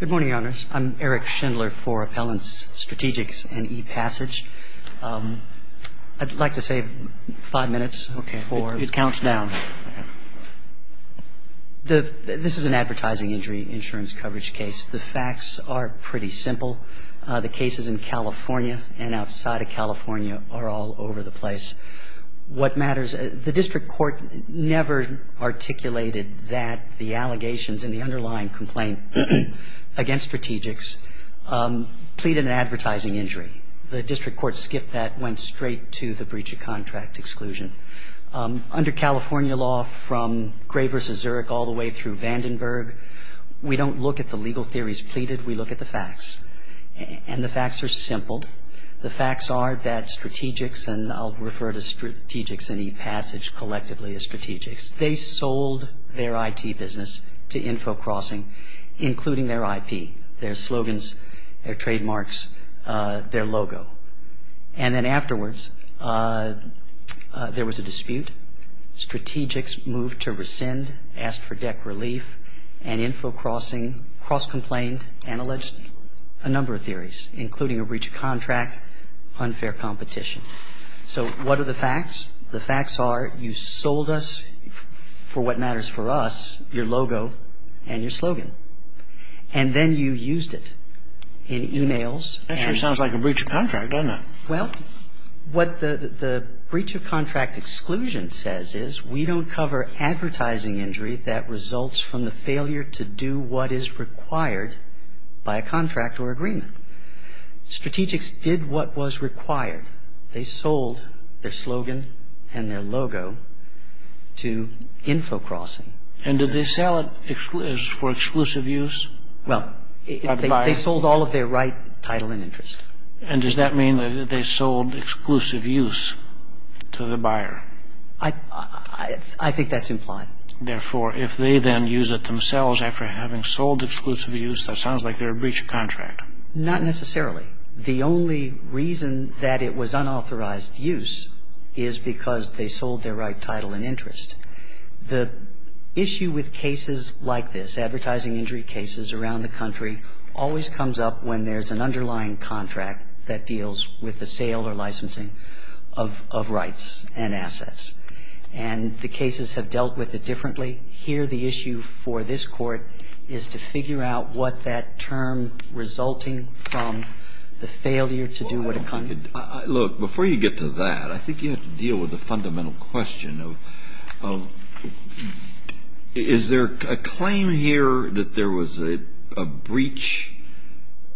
Good morning, Your Honors. I'm Eric Schindler for Appellants Strategics and ePassage. I'd like to save five minutes. Okay. It counts down. This is an advertising injury insurance coverage case. The facts are pretty simple. The cases in California and outside of California are all over the place. What matters, the district court never articulated that the allegations and the underlying complaint against Strategics pleaded an advertising injury. The district court skipped that and went straight to the breach of contract exclusion. Under California law, from Gray v. Zurich all the way through Vandenberg, we don't look at the legal theories pleaded. We look at the facts, and the facts are simple. The facts are that Strategics, and I'll refer to Strategics and ePassage collectively as Strategics, they sold their IT business to InfoCrossing, including their IP, their slogans, their trademarks, their logo. And then afterwards, there was a dispute. Strategics moved to rescind, asked for deck relief, and InfoCrossing cross-complained and alleged a number of theories, including a breach of contract, unfair competition. So what are the facts? The facts are you sold us, for what matters for us, your logo and your slogan. And then you used it in e-mails. That sure sounds like a breach of contract, doesn't it? Well, what the breach of contract exclusion says is we don't cover advertising injury that results from the failure to do what is required by a contract or agreement. Strategics did what was required. They sold their slogan and their logo to InfoCrossing. And did they sell it for exclusive use? Well, they sold all of their right title and interest. And does that mean that they sold exclusive use to the buyer? I think that's implied. Therefore, if they then use it themselves after having sold exclusive use, that sounds like they're a breach of contract. Not necessarily. The only reason that it was unauthorized use is because they sold their right title and interest. The issue with cases like this, advertising injury cases around the country, always comes up when there's an underlying contract that deals with the sale or licensing of rights and assets. And the cases have dealt with it differently. Here the issue for this Court is to figure out what that term resulting from the failure to do what it comes to. Look, before you get to that, I think you have to deal with the fundamental question of is there a claim here that there was a breach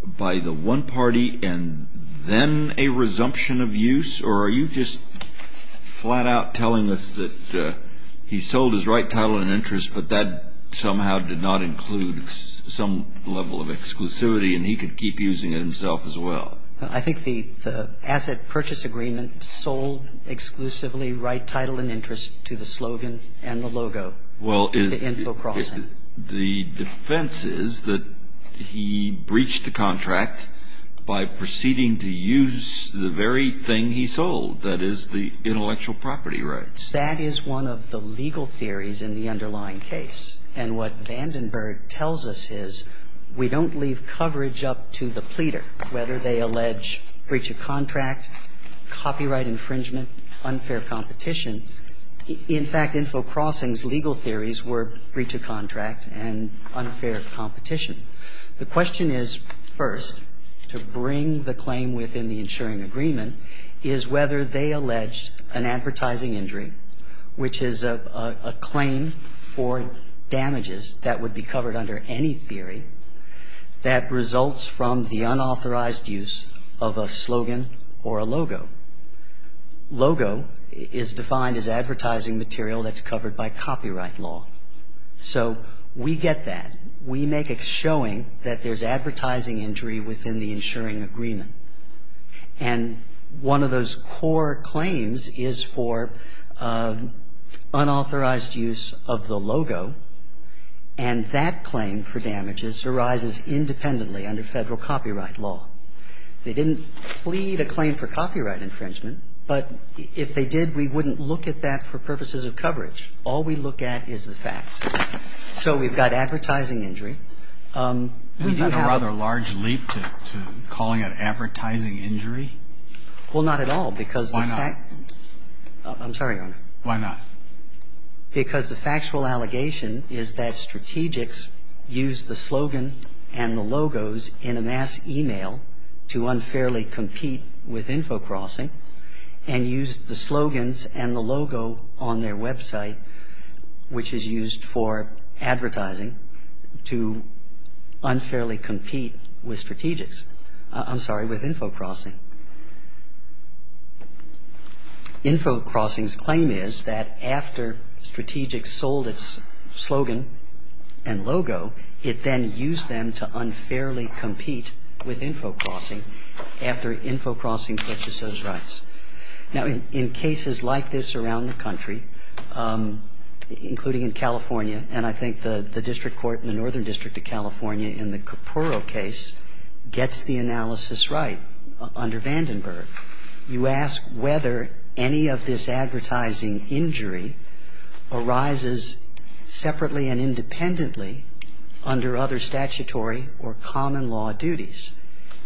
by the one party and then a resumption of use? Or are you just flat out telling us that he sold his right title and interest, but that somehow did not include some level of exclusivity and he could keep using it himself as well? I think the asset purchase agreement sold exclusively right title and interest to the slogan and the logo, to Info Crossing. Well, the defense is that he breached the contract by proceeding to use the very thing he sold, that is, the intellectual property rights. That is one of the legal theories in the underlying case. And what Vandenberg tells us is we don't leave coverage up to the pleader, whether they allege breach of contract, copyright infringement, unfair competition. In fact, Info Crossing's legal theories were breach of contract and unfair competition. The question is, first, to bring the claim within the insuring agreement is whether they allege an advertising injury, which is a claim for damages that would be covered under any theory that results from the unauthorized use of a slogan or a logo. Logo is defined as advertising material that's covered by copyright law. So we get that. We make a showing that there's advertising injury within the insuring agreement. And one of those core claims is for unauthorized use of the logo. And that claim for damages arises independently under Federal copyright law. They didn't plead a claim for copyright infringement, but if they did, we wouldn't look at that for purposes of coverage. All we look at is the facts. So we've got advertising injury. We do have a rather large leap to calling it advertising injury. Well, not at all, because the fact. Why not? I'm sorry, Your Honor. Why not? Because the factual allegation is that strategics used the slogan and the logos in a mass e-mail to unfairly compete with Info Crossing and used the slogans and the logo on their website, which is used for advertising, to unfairly compete with strategics. I'm sorry, with Info Crossing. Info Crossing's claim is that after strategics sold its slogan and logo, it then used them to unfairly compete with Info Crossing after Info Crossing purchased those rights. Now, in cases like this around the country, including in California, and I think the district court in the Northern District of California in the Capurro case gets the analysis right under Vandenberg, you ask whether any of this advertising injury arises separately and independently under other statutory or common law duties.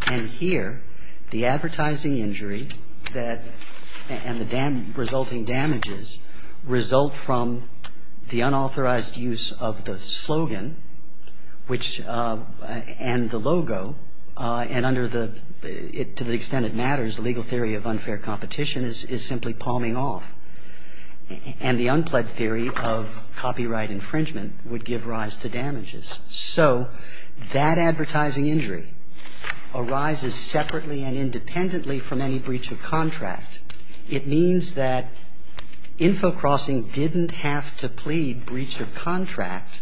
And here, the advertising injury and the resulting damages result from the unauthorized use of the slogan and the logo, and under the, to the extent it matters, the legal theory of unfair competition is simply palming off. And the unpledged theory of copyright infringement would give rise to damages. So that advertising injury arises separately and independently from any breach of contract. It means that Info Crossing didn't have to plead breach of contract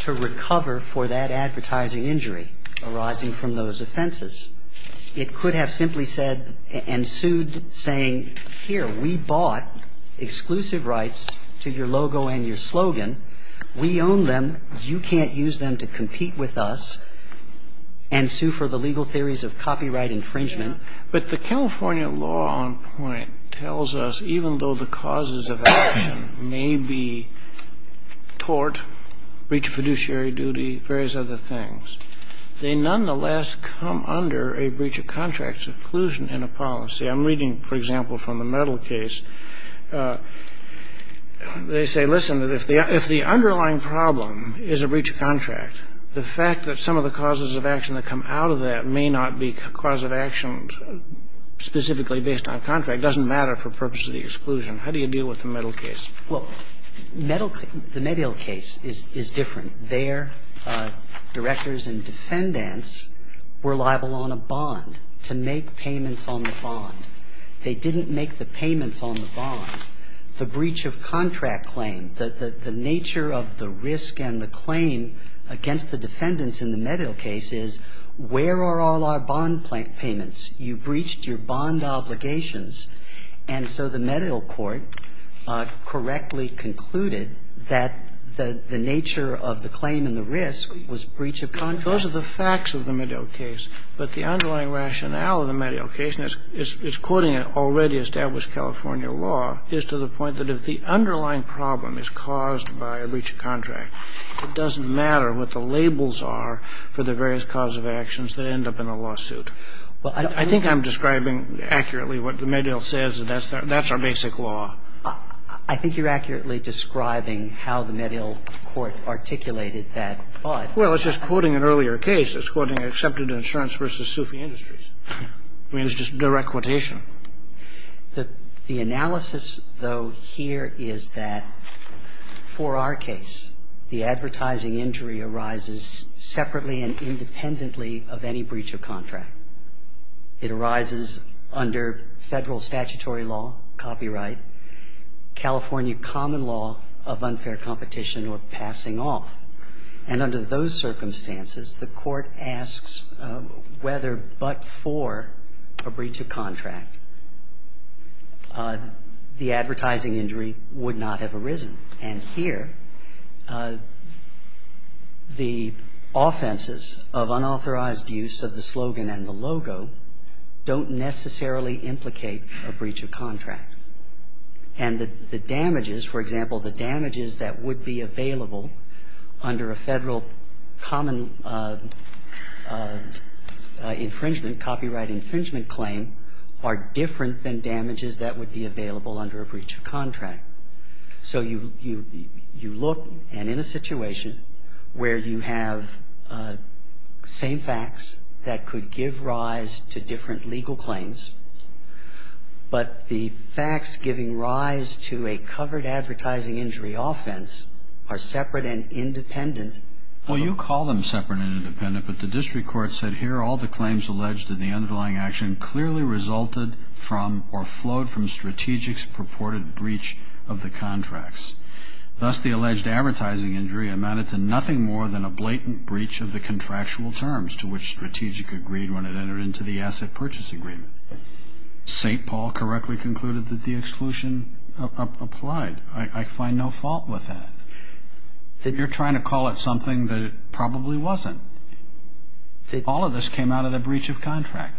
to recover for that advertising injury arising from those offenses. It could have simply said and sued saying, here, we bought exclusive rights to your logo and your slogan. We own them. You can't use them to compete with us and sue for the legal theories of copyright infringement. But the California law on point tells us even though the causes of action may be tort, breach of fiduciary duty, various other things, they nonetheless come under a breach of contract exclusion in a policy. I'm reading, for example, from the Mettle case. They say, listen, if the underlying problem is a breach of contract, the fact that some of the causes of action that come out of that may not be cause of action specifically based on contract doesn't matter for purposes of the exclusion. How do you deal with the Mettle case? Well, the Mettle case is different. Their directors and defendants were liable on a bond to make payments on the bond. They didn't make the payments on the bond. The breach of contract claim, the nature of the risk and the claim against the defendants in the Mettle case is where are all our bond payments? You breached your bond obligations, and so the Mettle court correctly concluded that the nature of the claim and the risk was breach of contract. Those are the facts of the Mettle case, but the underlying rationale of the Mettle case, and it's quoting an already established California law, is to the point that if the underlying problem is caused by a breach of contract, it doesn't matter what the labels are for the various cause of actions that end up in a lawsuit. I think I'm describing accurately what the Mettle says, and that's our basic law. I think you're accurately describing how the Mettle court articulated that. Well, it's just quoting an earlier case. It's quoting Accepted Insurance v. Sufi Industries. I mean, it's just direct quotation. The analysis, though, here is that for our case, the advertising injury arises separately and independently of any breach of contract. It arises under Federal statutory law, copyright, California common law of unfair competition or passing off. And under those circumstances, the Court asks whether but for a breach of contract, the advertising injury would not have arisen. And here, the offenses of unauthorized use of the slogan and the logo don't necessarily implicate a breach of contract. And the damages, for example, the damages that would be available under a Federal common infringement, copyright infringement claim are different than damages that would be available under a breach of contract. So you look, and in a situation where you have same facts that could give rise to different legal claims, but the facts giving rise to a covered advertising injury offense are separate and independent. Well, you call them separate and independent, but the district court said, here are all the claims alleged in the underlying action clearly resulted from or flowed from strategic's purported breach of the contracts. Thus, the alleged advertising injury amounted to nothing more than a blatant breach of the contractual terms to which strategic agreed when it entered into the asset purchase agreement. St. Paul correctly concluded that the exclusion applied. I find no fault with that. You're trying to call it something that it probably wasn't. All of this came out of the breach of contract.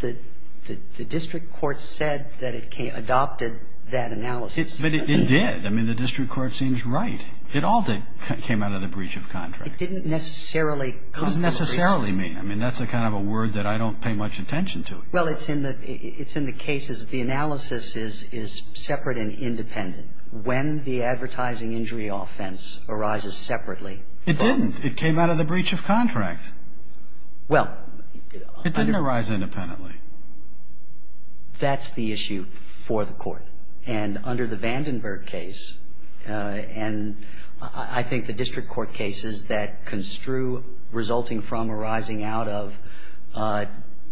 The district court said that it adopted that analysis. But it did. I mean, the district court seems right. It all came out of the breach of contract. It didn't necessarily come from a breach of contract. What does necessarily mean? I mean, that's a kind of a word that I don't pay much attention to. Well, it's in the cases, the analysis is separate and independent. When the advertising injury offense arises separately. It didn't. It came out of the breach of contract. Well. It didn't arise independently. That's the issue for the Court. And under the Vandenberg case, and I think the district court cases that construe resulting from arising out of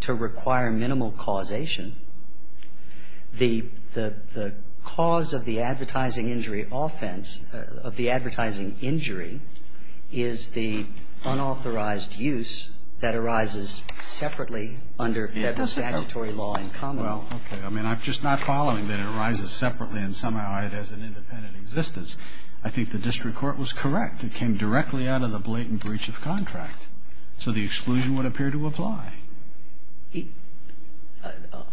to require minimal causation, the cause of the advertising injury offense, of the advertising injury, is the unauthorized use that arises separately under Federal statutory law in common law. Well, okay. I mean, I'm just not following that it arises separately and somehow it has an independent existence. I think the district court was correct. It came directly out of the blatant breach of contract. So the exclusion would appear to apply.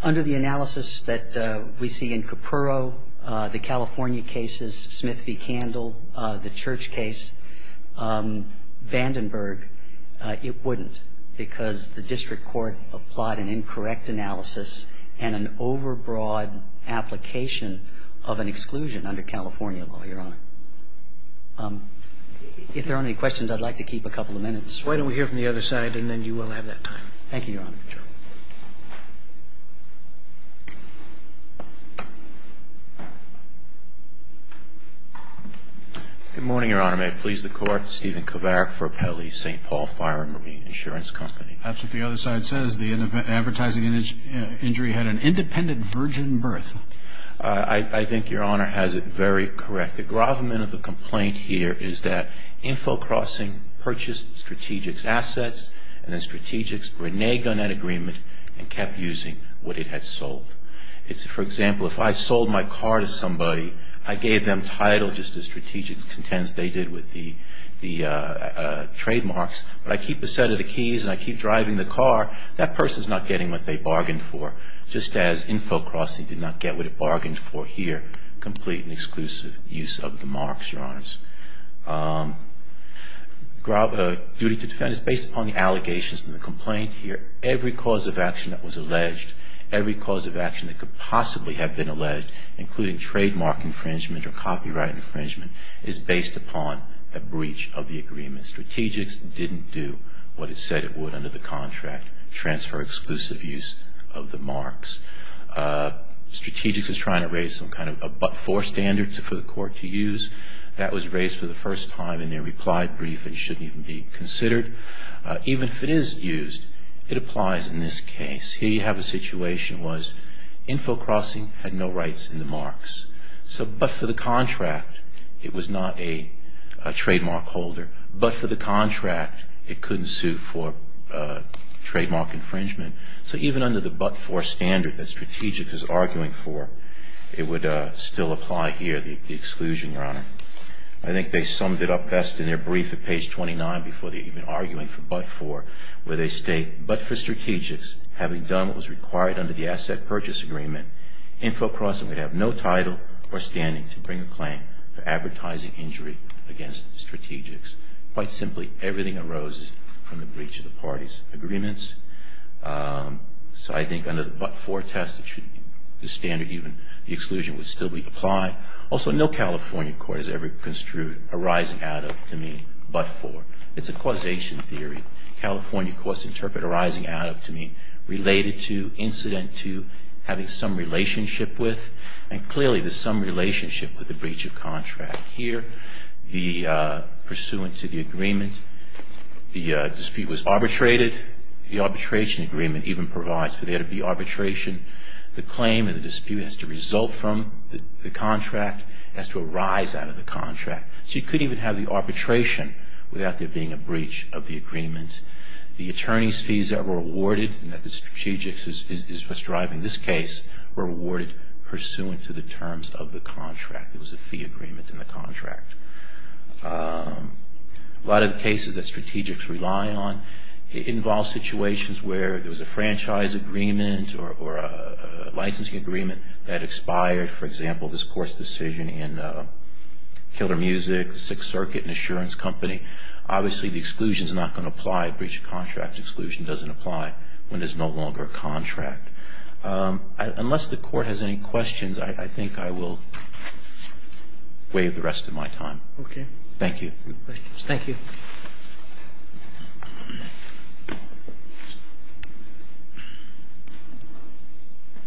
Under the analysis that we see in Capurro, the California cases, Smith v. Candle, the Church case, Vandenberg, it wouldn't because the district court applied an incorrect analysis and an overbroad application of an exclusion under California law, Your Honor. If there aren't any questions, I'd like to keep a couple of minutes. Why don't we hear from the other side and then you will have that time. Thank you, Your Honor. Good morning, Your Honor. May it please the Court. Stephen Kovarik for Pele, St. Paul Fire and Marine Insurance Company. That's what the other side says. The advertising injury had an independent virgin birth. I think Your Honor has it very correct. The gravamen of the complaint here is that Info Crossing purchased Strategic's assets and then Strategic's reneged on that agreement and kept using what it had sold. For example, if I sold my car to somebody, I gave them title just as Strategic contends they did with the trademarks, but I keep a set of the keys and I keep driving the car, that person is not getting what they bargained for, just as Info So the claim is that Strategic's was not able to transfer exclusive use of the marks, Your Honors. Duty to defend is based upon the allegations in the complaint here. Every cause of action that was alleged, every cause of action that could possibly have been alleged, including trademark infringement or copyright infringement, is based upon a breach of the agreement. Strategic's didn't do what it said it would under the contract, transfer exclusive use of the marks. Strategic's was trying to raise some kind of a but-for standard for the court to use. That was raised for the first time in their reply brief and shouldn't even be considered. Even if it is used, it applies in this case. Here you have a situation where Info Crossing had no rights in the marks. But for the contract, it was not a trademark holder. But for the contract, it couldn't sue for trademark infringement. So even under the but-for standard that Strategic's is arguing for, it would still apply here, the exclusion, Your Honor. I think they summed it up best in their brief at page 29 before they were even arguing for but-for, where they state, but for Strategic's, having done what was required under the asset purchase agreement, Info Crossing would have no title or standing to bring a claim for but-for. So I think under the but-for test, the standard, even the exclusion, would still be applied. Also, no California court has ever construed a rising add-up to mean but-for. It's a causation theory. California courts interpret a rising add-up to mean related to, incident to, having some relationship with, and clearly there's some relationship with the breach of contract here. The pursuant to the agreement, the dispute was arbitrated. The arbitration agreement even provides for there to be arbitration. The claim and the dispute has to result from the contract. It has to arise out of the contract. So you couldn't even have the arbitration without there being a breach of the agreement. The attorney's fees that were awarded, and that the Strategic's is driving this case, were awarded pursuant to the terms of the contract. It was a fee agreement in the contract. A lot of the cases that Strategic's rely on, it involves situations where there was a franchise agreement or a licensing agreement that expired. For example, this court's decision in Killer Music, Sixth Circuit, an insurance company. Obviously the exclusion's not going to apply unless the court has any questions. I think I will waive the rest of my time. Okay. Thank you. Thank you.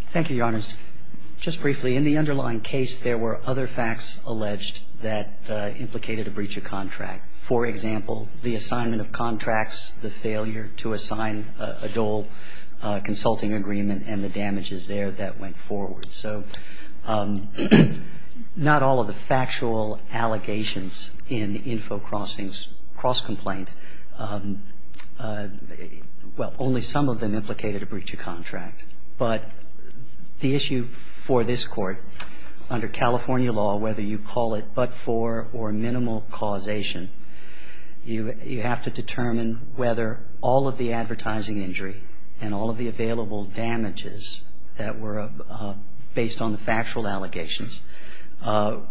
Thank you, Your Honors. Just briefly, in the underlying case, there were other facts alleged that implicated a breach of contract. For example, the assignment of a dole consulting agreement and the damages there that went forward. So not all of the factual allegations in Info Crossing's cross-complaint, well, only some of them implicated a breach of contract. But the issue for this Court, under California law, whether you call it but-for or minimal causation, you have to determine whether all of the advertising injury and all of the available damages that were based on the factual allegations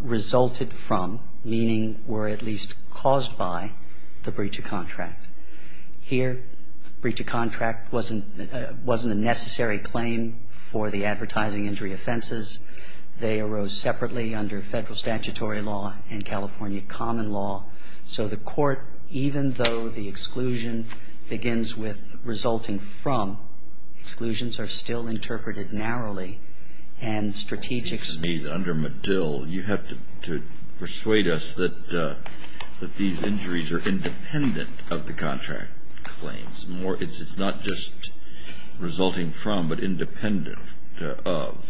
resulted from, meaning were at least caused by, the breach of contract. Here, breach of contract wasn't a necessary claim for the advertising injury offenses. They arose separately under Federal statutory law and California common law. So the Court, even though the exclusion begins with resulting from, exclusions are still interpreted narrowly and strategic. Under Medill, you have to persuade us that these injuries are independent of the contract claims. It's not just resulting from but independent of.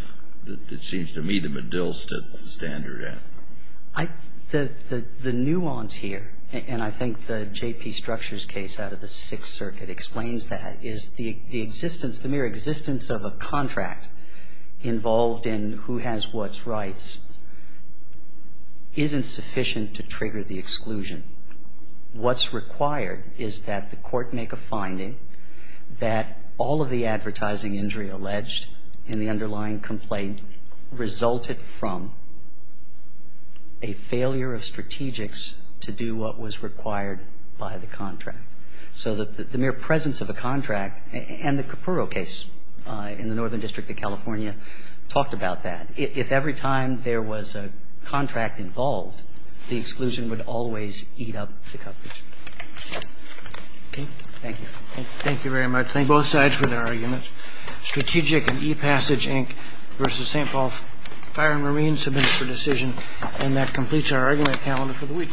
It seems to me that Medill sets the standard. I don't think that's true yet. The nuance here, and I think the J.P. Structure's case out of the Sixth Circuit explains that, is the existence, the mere existence of a contract involved in who has what rights isn't sufficient to trigger the exclusion. What's required is that the Court make a finding that all of the advertising injury alleged in the underlying complaint resulted from a failure of strategics to do what was required by the contract. So the mere presence of a contract, and the Capurro case in the Northern District of California talked about that, if every time there was a contract involved, the exclusion would always eat up the coverage. Okay. Thank you. Thank you very much. Thank both sides for their arguments. Strategic and ePassage, Inc. versus St. Paul Fire and Marine, submit for decision. And that completes our argument calendar for the week.